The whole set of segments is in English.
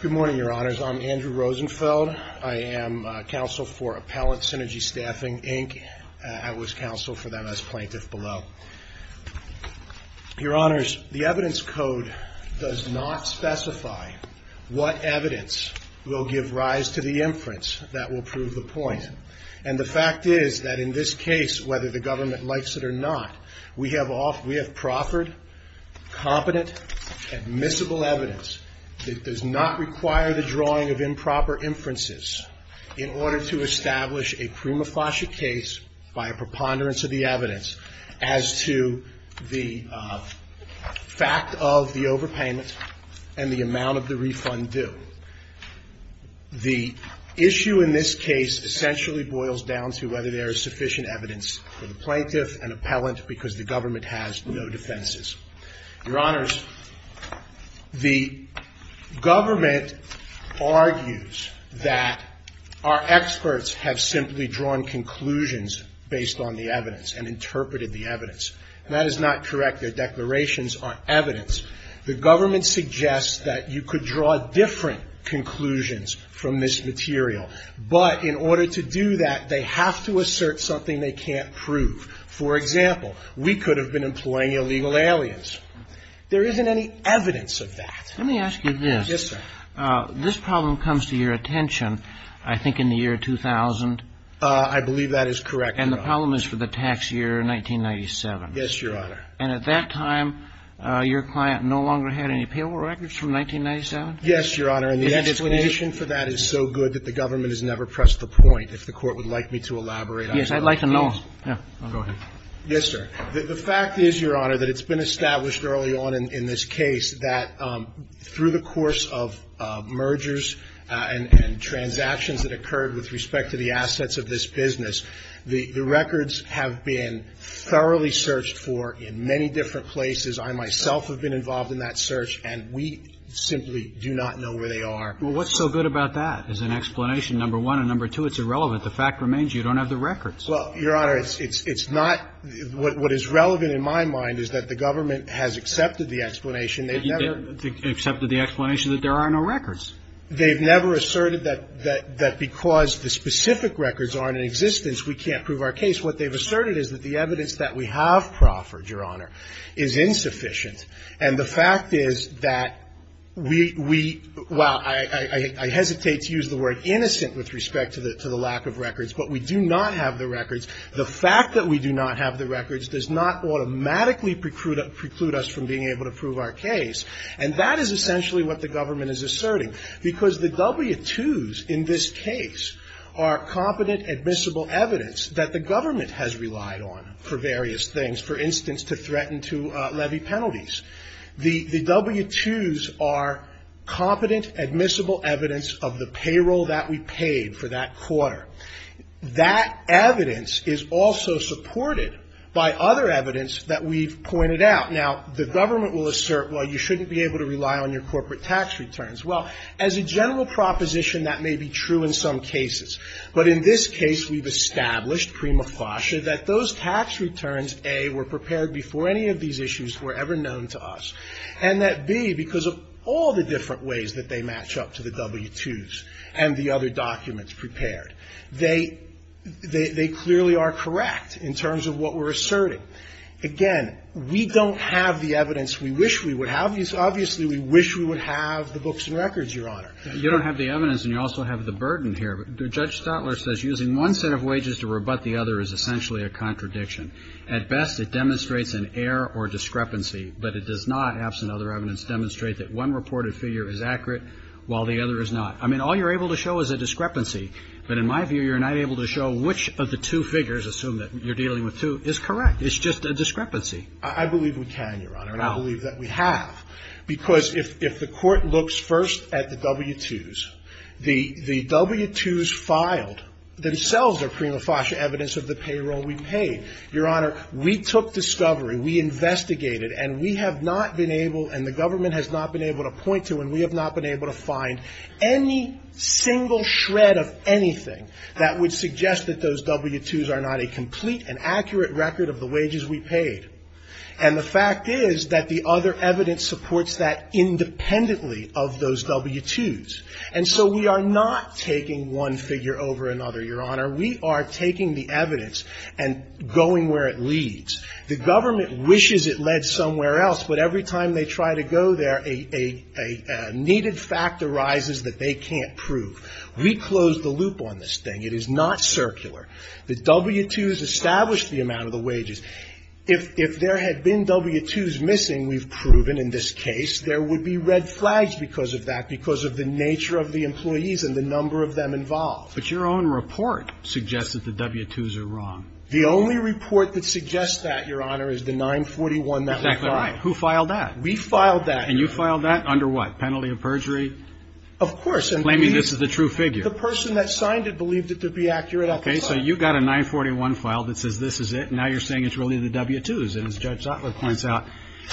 Good morning, your honors. I'm Andrew Rosenfeld. I am counsel for Appellant Synergy Staffing, Inc. I was counsel for them as plaintiff below. Your honors, the evidence code does not specify what evidence will give rise to the inference that will prove the point. And the fact is that in this case, whether the government likes it or not, we have proffered competent admissible evidence that does not require the drawing of improper inferences in order to establish a prima facie case by a preponderance of the evidence as to the fact of the overpayment and the amount of the refund due. The issue in this case essentially boils down to whether there is sufficient evidence for the plaintiff and appellant because the government has no Your honors, the government argues that our experts have simply drawn conclusions based on the evidence and interpreted the evidence. And that is not correct. Their declarations are evidence. The government suggests that you could draw different conclusions from this material. But in order to do that, they have to assert something they can't prove. For example, we could have been employing illegal aliens. There isn't any evidence of that. Let me ask you this. Yes, sir. This problem comes to your attention, I think, in the year 2000. I believe that is correct, Your Honor. And the problem is for the tax year 1997. Yes, Your Honor. And at that time, your client no longer had any payable records from 1997? Yes, Your Honor. And the explanation for that is so good that the government has never pressed the point. If the Court would like me to elaborate on that, please. Yes, I'd like to know. Go ahead. Yes, sir. The fact is, Your Honor, that it's been established early on in this case that through the course of mergers and transactions that occurred with respect to the assets of this business, the records have been thoroughly searched for in many different places. I myself have been involved in that search, and we simply do not know where they are. Well, what's so good about that as an explanation, number one? And number two, it's irrelevant. The fact remains you don't have the records. Well, Your Honor, it's not – what is relevant in my mind is that the government has accepted the explanation. They've never – Accepted the explanation that there are no records. They've never asserted that because the specific records aren't in existence, we can't prove our case. What they've asserted is that the evidence that we have proffered, Your Honor, is insufficient. And the fact is that we – well, I hesitate to use the word innocent with respect to the lack of records, but we do not have the records. The fact that we do not have the records does not automatically preclude us from being able to prove our case. And that is essentially what the government is asserting, because the W-2s in this case are competent, admissible evidence that the government has relied on for various things, for instance, to threaten to levy penalties. The W-2s are competent, admissible evidence of the is also supported by other evidence that we've pointed out. Now, the government will assert, well, you shouldn't be able to rely on your corporate tax returns. Well, as a general proposition, that may be true in some cases. But in this case, we've established prima facie that those tax returns, A, were prepared before any of these issues were ever known to us, and that, B, because of all the different ways that they match up to the W-2s and the other documents prepared, they clearly are correct in terms of what we're asserting. Again, we don't have the evidence we wish we would have. Obviously, we wish we would have the books and records, Your Honor. Roberts. You don't have the evidence, and you also have the burden here. Judge Stotler says, Using one set of wages to rebut the other is essentially a contradiction. At best, it demonstrates an error or discrepancy, but it does not, absent other evidence, demonstrate that one reported figure is accurate while the other is not. I mean, all you're able to show is a discrepancy. But in my view, you're not able to show which of the two figures, assume that you're dealing with two, is correct. It's just a discrepancy. I believe we can, Your Honor. And I believe that we have. Because if the Court looks first at the W-2s, the W-2s filed themselves are prima facie evidence of the payroll we paid. Your Honor, we took discovery. We investigated. And we have not been able, and the government has not been able to point to, and any single shred of anything that would suggest that those W-2s are not a complete and accurate record of the wages we paid. And the fact is that the other evidence supports that independently of those W-2s. And so we are not taking one figure over another, Your Honor. We are taking the evidence and going where it leads. The government wishes it led somewhere else, but every time they try to go there, a needed fact arises that they can't prove. We closed the loop on this thing. It is not circular. The W-2s established the amount of the wages. If there had been W-2s missing, we've proven in this case, there would be red flags because of that, because of the nature of the employees and the number of them involved. But your own report suggests that the W-2s are wrong. The only report that suggests that, Your Honor, is the 941 that we filed. Exactly. Who filed that? We filed that. And you filed that under what? Penalty of perjury? Of course. Claiming this is the true figure. The person that signed it believed it to be accurate. Okay. So you've got a 941 file that says this is it. Now you're saying it's really the W-2s. And as Judge Zottler points out,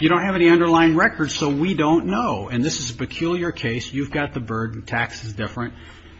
you don't have any underlying records, so we don't know. And this is a peculiar case. You've got the burden. Tax is different.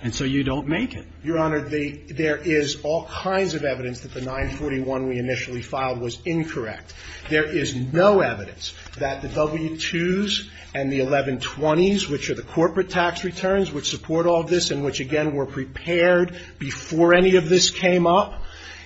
And so you don't make it. Your Honor, there is all kinds of evidence that the 941 we initially filed was incorrect. There is no evidence that the W-2s and the 1120s, which are the corporate tax returns, which support all of this and which, again, were prepared before any of this came up,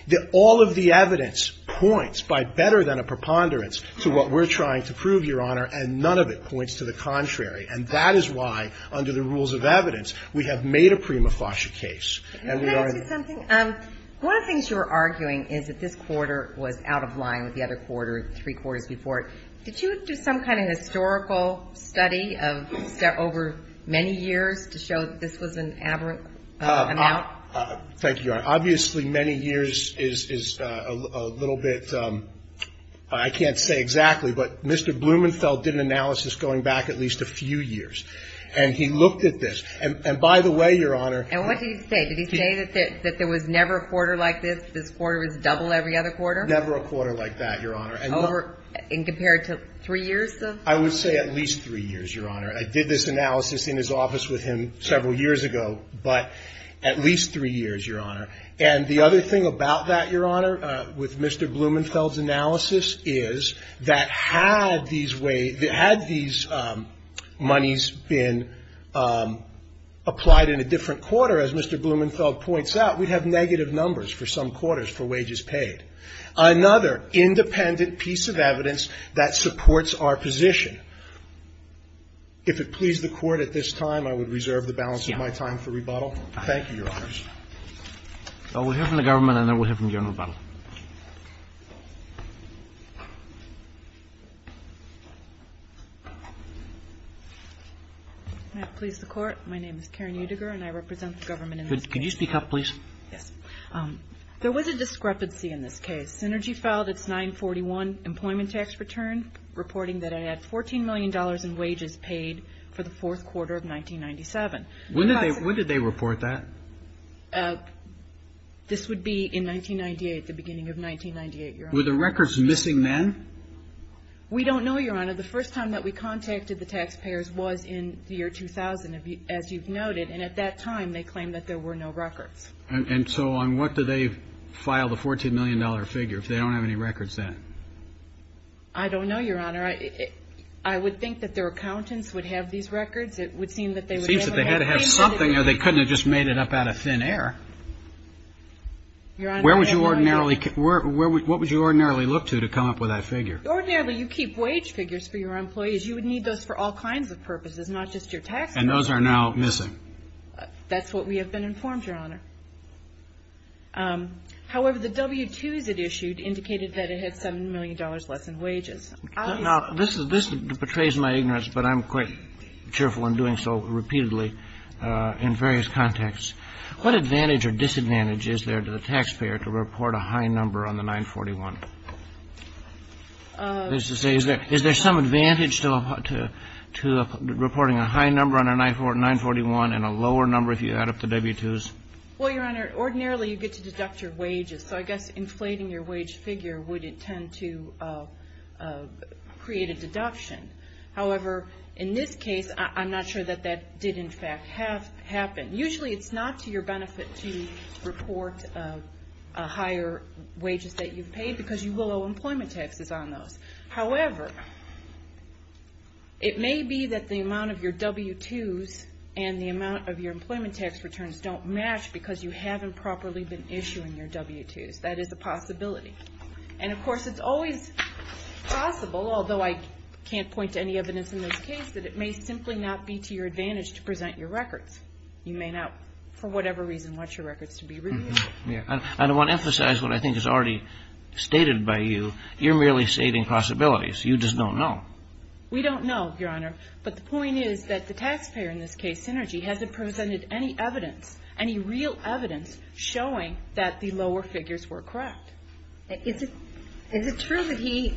that all of the evidence points by better than a preponderance to what we're trying to prove, Your Honor, and none of it points to the contrary. And that is why, under the rules of evidence, we have made a prima facie case. Can I ask you something? One of the things you were arguing is that this quarter was out of line with the other quarter, three quarters before it. Did you do some kind of historical study of over many years to show that this was an aberrant amount? Thank you, Your Honor. Obviously, many years is a little bit ‑‑ I can't say exactly, but Mr. Blumenfeld did an analysis going back at least a few years. And he looked at this. And by the way, Your Honor ‑‑ And what did he say? Did he say that there was never a quarter like this? This quarter was double every other quarter? Never a quarter like that, Your Honor. And compared to three years of ‑‑ I would say at least three years, Your Honor. I did this analysis in his office with him several years ago, but at least three years, Your Honor. And the other thing about that, Your Honor, with Mr. Blumenfeld's analysis is that had these ways ‑‑ had these monies been applied in a different quarter, as Mr. Blumenfeld points out, we'd have negative numbers for some quarters for wages paid. Another independent piece of evidence that supports our position. If it please the Court at this time, I would reserve the balance of my time for rebuttal. Thank you, Your Honors. I will hear from the government, and I will hear from General Butler. May it please the Court. My name is Karen Utiger, and I represent the government in this case. Could you speak up, please? Yes. There was a discrepancy in this case. Synergy filed its 941 employment tax return, reporting that it had $14 million in wages paid for the fourth quarter of 1997. When did they report that? This would be in 1998, the beginning of 1998, Your Honor. Were the records missing then? We don't know, Your Honor. The first time that we contacted the taxpayers was in the year 2000, as you've noted. And at that time, they claimed that there were no records. And so on what do they file the $14 million figure if they don't have any records then? I don't know, Your Honor. I would think that their accountants would have these records. It would seem that they would never have anything. It seems that they had to have something, or they couldn't have just made it up out of thin air. Where would you ordinarily look to to come up with that figure? Ordinarily, you keep wage figures for your employees. You would need those for all kinds of purposes, not just your taxpayers. And those are now missing. That's what we have been informed, Your Honor. However, the W-2s it issued indicated that it had $7 million less in wages. Now, this betrays my ignorance, but I'm quite cheerful in doing so repeatedly in various contexts. What advantage or disadvantage is there to the taxpayer to report a high number on the 941? That is to say, is there some advantage to reporting a high number on a 941 and a lower number if you add up the W-2s? Well, Your Honor, ordinarily you get to deduct your wages. So I guess inflating your wage figure would intend to create a deduction. However, in this case, I'm not sure that that did, in fact, happen. Usually it's not to your benefit to report a higher wages that you've paid because you will owe employment taxes on those. However, it may be that the amount of your W-2s and the amount of your employment tax returns don't match because you haven't properly been issuing your W-2s. That is a possibility. And of course, it's always possible, although I can't point to any evidence in this case, that it may simply not be to your advantage to present your records. You may not, for whatever reason, want your records to be reviewed. I don't want to emphasize what I think is already stated by you. You're merely stating possibilities. You just don't know. We don't know, Your Honor. But the point is that the taxpayer in this case, Synergy, hasn't presented any evidence, any real evidence, showing that the lower figures were correct. Is it true that he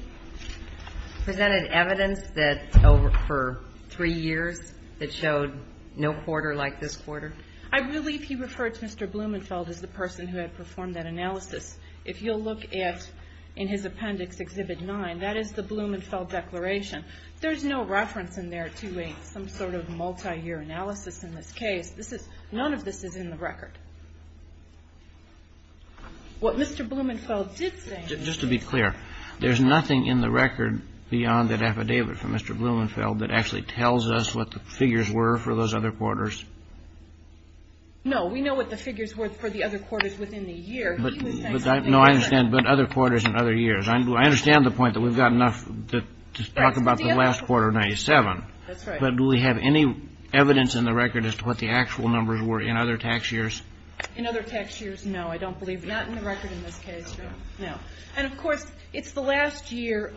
presented evidence that over for three years that showed no quarter like this quarter? I believe he referred to Mr. Blumenfeld as the person who had performed that analysis. If you'll look at, in his appendix, Exhibit 9, that is the Blumenfeld declaration. There's no reference in there to some sort of multi-year analysis in this case. None of this is in the record. What Mr. Blumenfeld did say... Just to be clear, there's nothing in the record beyond that affidavit from Mr. Blumenfeld that actually tells us what the figures were for those other quarters? No. We know what the figures were for the other quarters within the year. No, I understand. But other quarters and other years. I understand the point that we've got enough to talk about the last quarter of 1997, but do we have any evidence in the record as to what the actual numbers were in other tax years? In other tax years, no, I don't believe. Not in the record in this case, no. And, of course, it's the last year.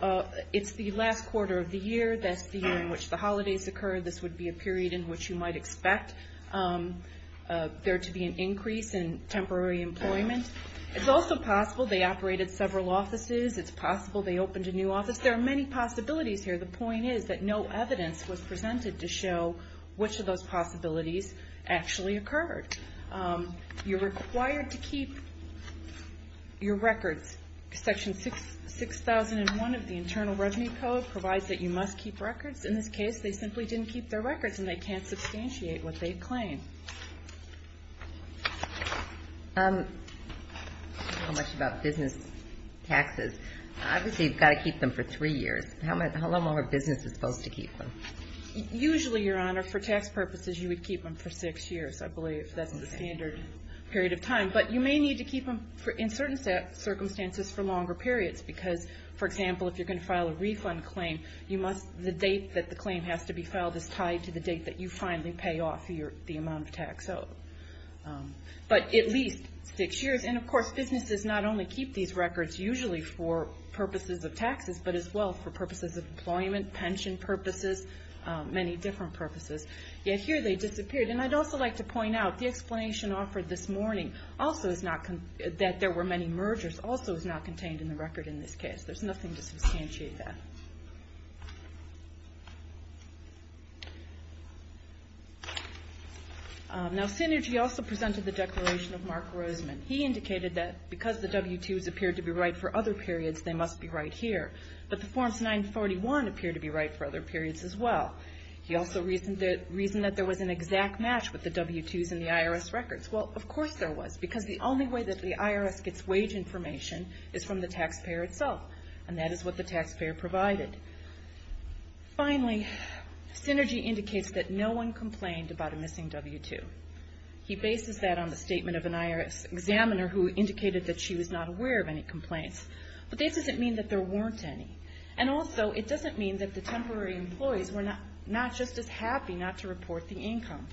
It's the last quarter of the year. That's the year in which the holidays occur. This would be a period in which you might expect. There to be an increase in temporary employment. It's also possible they operated several offices. It's possible they opened a new office. There are many possibilities here. The point is that no evidence was presented to show which of those possibilities actually occurred. You're required to keep your records. Section 6001 of the Internal Revenue Code provides that you must keep records. In this case, they simply didn't keep their records and they can't substantiate what they claim. I don't know much about business taxes. Obviously, you've got to keep them for three years. How long are businesses supposed to keep them? Usually, Your Honor, for tax purposes, you would keep them for six years, I believe. That's the standard period of time. But you may need to keep them in certain circumstances for longer periods because, for example, if you're going to file a refund claim, the date that the claim has to be filed is tied to the date that you finally pay off the amount of tax. But at least six years. Of course, businesses not only keep these records usually for purposes of taxes, but as well for purposes of employment, pension purposes, many different purposes. Yet here they disappeared. I'd also like to point out the explanation offered this morning that there were many mergers also is not contained in the record in this case. There's nothing to substantiate that. Now, Synergy also presented the declaration of Mark Roseman. He indicated that because the W-2s appeared to be right for other periods, they must be right here. But the Forms 941 appeared to be right for other periods as well. He also reasoned that there was an exact match with the W-2s in the IRS records. Well, of course there was. Because the only way that the IRS gets wage information is from the taxpayer itself, and that is what the taxpayer provided. Finally, Synergy indicates that no one complained about a missing W-2. He bases that on the statement of an IRS examiner who indicated that she was not aware of any complaints. But this doesn't mean that there weren't any. And also, it doesn't mean that the temporary employees were not just as happy not to report the income.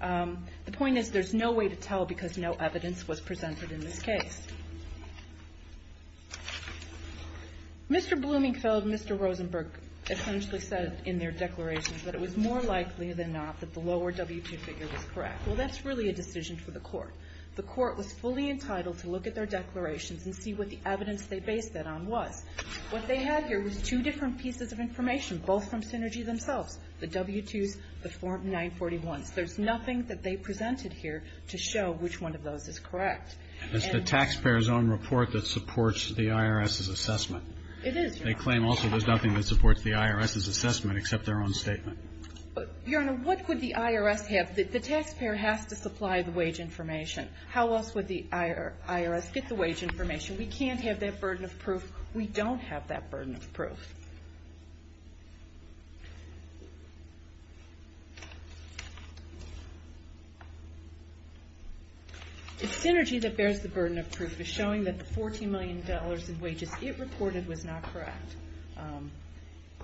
The point is there's no way to tell because no evidence was presented in this case. Mr. Bloomingfield and Mr. Rosenberg essentially said in their declarations that it was more likely than not that the lower W-2 figure was correct. Well, that's really a decision for the Court. The Court was fully entitled to look at their declarations and see what the evidence they based that on was. What they had here was two different pieces of information, both from Synergy themselves, the W-2s, the Form 941s. There's nothing that they presented here to show which one of those is correct. It's the taxpayer's own report that supports the IRS's assessment. It is. They claim also there's nothing that supports the IRS's assessment except their own statement. Your Honor, what would the IRS have? The taxpayer has to supply the wage information. How else would the IRS get the wage information? We can't have that burden of proof. We don't have that burden of proof. The Synergy that bears the burden of proof is showing that the $14 million in wages it reported was not correct.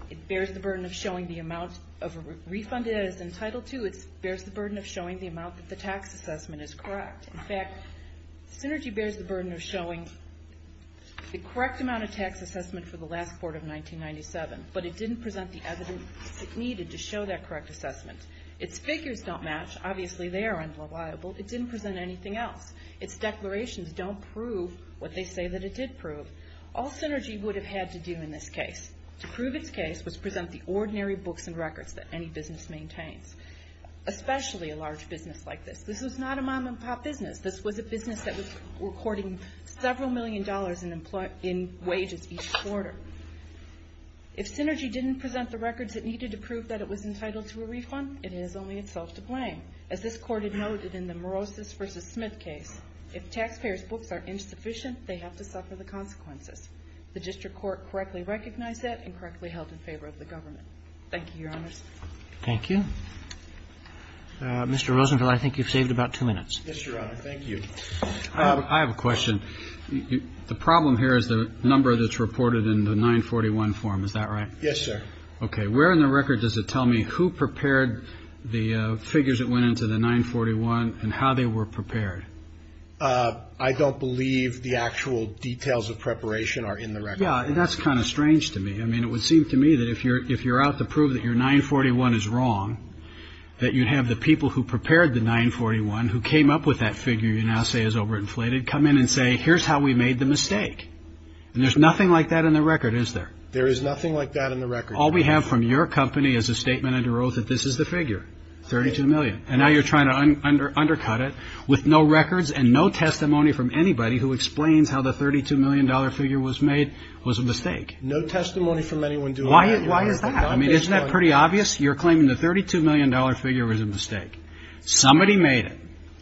It bears the burden of showing the amount of refund it is entitled to. It bears the burden of showing the amount that the tax assessment is correct. In fact, Synergy bears the burden of showing the correct amount of tax assessment for the last quarter of 1997, but it didn't present the evidence it needed to show that correct assessment. Its figures don't match. Obviously, they are unreliable. It didn't present anything else. Its declarations don't prove what they say that it did prove. All Synergy would have had to do in this case to prove its case was present the ordinary books and records that any business maintains, especially a large business like this. This was not a mom-and-pop business. This was a business that was reporting several million dollars in wages each quarter. If Synergy didn't present the records it needed to prove that it was entitled to a refund, it has only itself to blame. As this Court had noted in the Morosis v. Smith case, if taxpayers' books are insufficient, they have to suffer the consequences. The district court correctly recognized that and correctly held in favor of the government. Thank you, Your Honors. Roberts. Roberts. Thank you. Mr. Rosenfeld, I think you've saved about two minutes. Yes, Your Honor. Thank you. I have a question. The problem here is the number that's reported in the 941 form, is that right? Yes, sir. Okay. Where in the record does it tell me who prepared the figures that went into the 941 and how they were prepared? I don't believe the actual details of preparation are in the record. Yeah. That's kind of strange to me. I mean, it would seem to me that if you're out to prove that your 941 is wrong, that you'd have the people who prepared the 941, who came up with that figure you now say is overinflated, come in and say, here's how we made the mistake. And there's nothing like that in the record, is there? There is nothing like that in the record. All we have from your company is a statement under oath that this is the figure, 32 million. And now you're trying to undercut it with no records and no testimony from anybody who explains how the $32 million figure was made was a mistake. No testimony from anyone doing that. Why is that? I mean, isn't that pretty obvious? You're claiming the $32 million figure was a mistake. Somebody made it.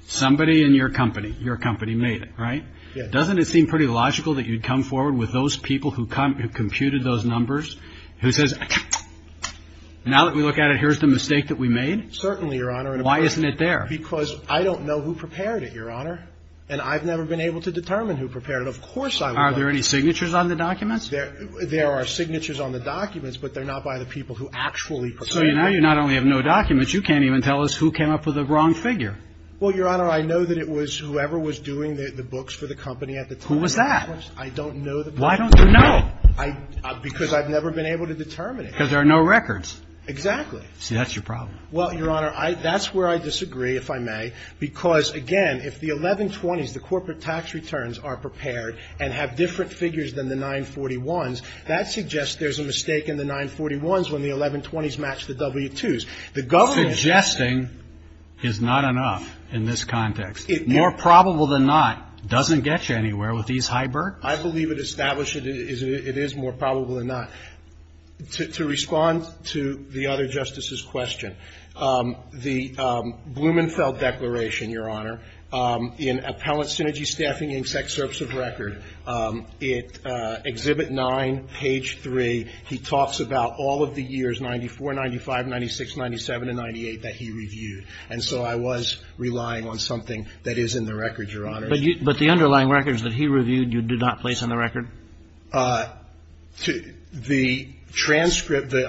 Somebody in your company, your company made it, right? Doesn't it seem pretty logical that you'd come forward with those people who computed those numbers, who says, now that we look at it, here's the mistake that we made? Certainly, Your Honor. Why isn't it there? Because I don't know who prepared it, Your Honor. And I've never been able to determine who prepared it. Of course I would know. Are there any signatures on the documents? There are signatures on the documents, but they're not by the people who actually prepared it. So now you not only have no documents, you can't even tell us who came up with the wrong figure. Well, Your Honor, I know that it was whoever was doing the books for the company at the time. Who was that? I don't know the person. Why don't you know? Because I've never been able to determine it. Because there are no records. Exactly. See, that's your problem. Well, Your Honor, that's where I disagree, if I may. Because, again, if the 1120s, the corporate tax returns, are prepared and have different figures than the 941s, that suggests there's a mistake in the 941s when the 1120s match the W-2s. The government... Suggesting is not enough in this context. More probable than not doesn't get you anywhere with these hybrids. I believe it established it is more probable than not. To respond to the other Justice's question, the Blumenfeld Declaration, Your Honor, in Appellant Synergy Staffing Insect Service of Record, Exhibit 9, Page 3, he talks about all of the years, 94, 95, 96, 97, and 98, that he reviewed. And so I was relying on something that is in the record, Your Honor. But the underlying records that he reviewed, you did not place on the record? The transcript, the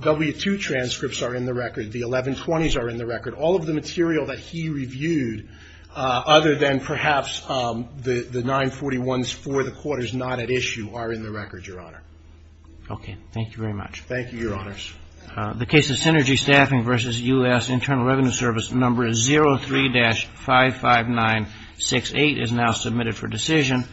W-2 transcripts are in the record. The 1120s are in the record. All of the material that he reviewed, other than perhaps the 941s for the quarters not at issue, are in the record, Your Honor. Okay. Thank you very much. Thank you, Your Honors. The case of Synergy Staffing v. U.S. Internal Revenue Service, number 03-55968, is now submitted for decision.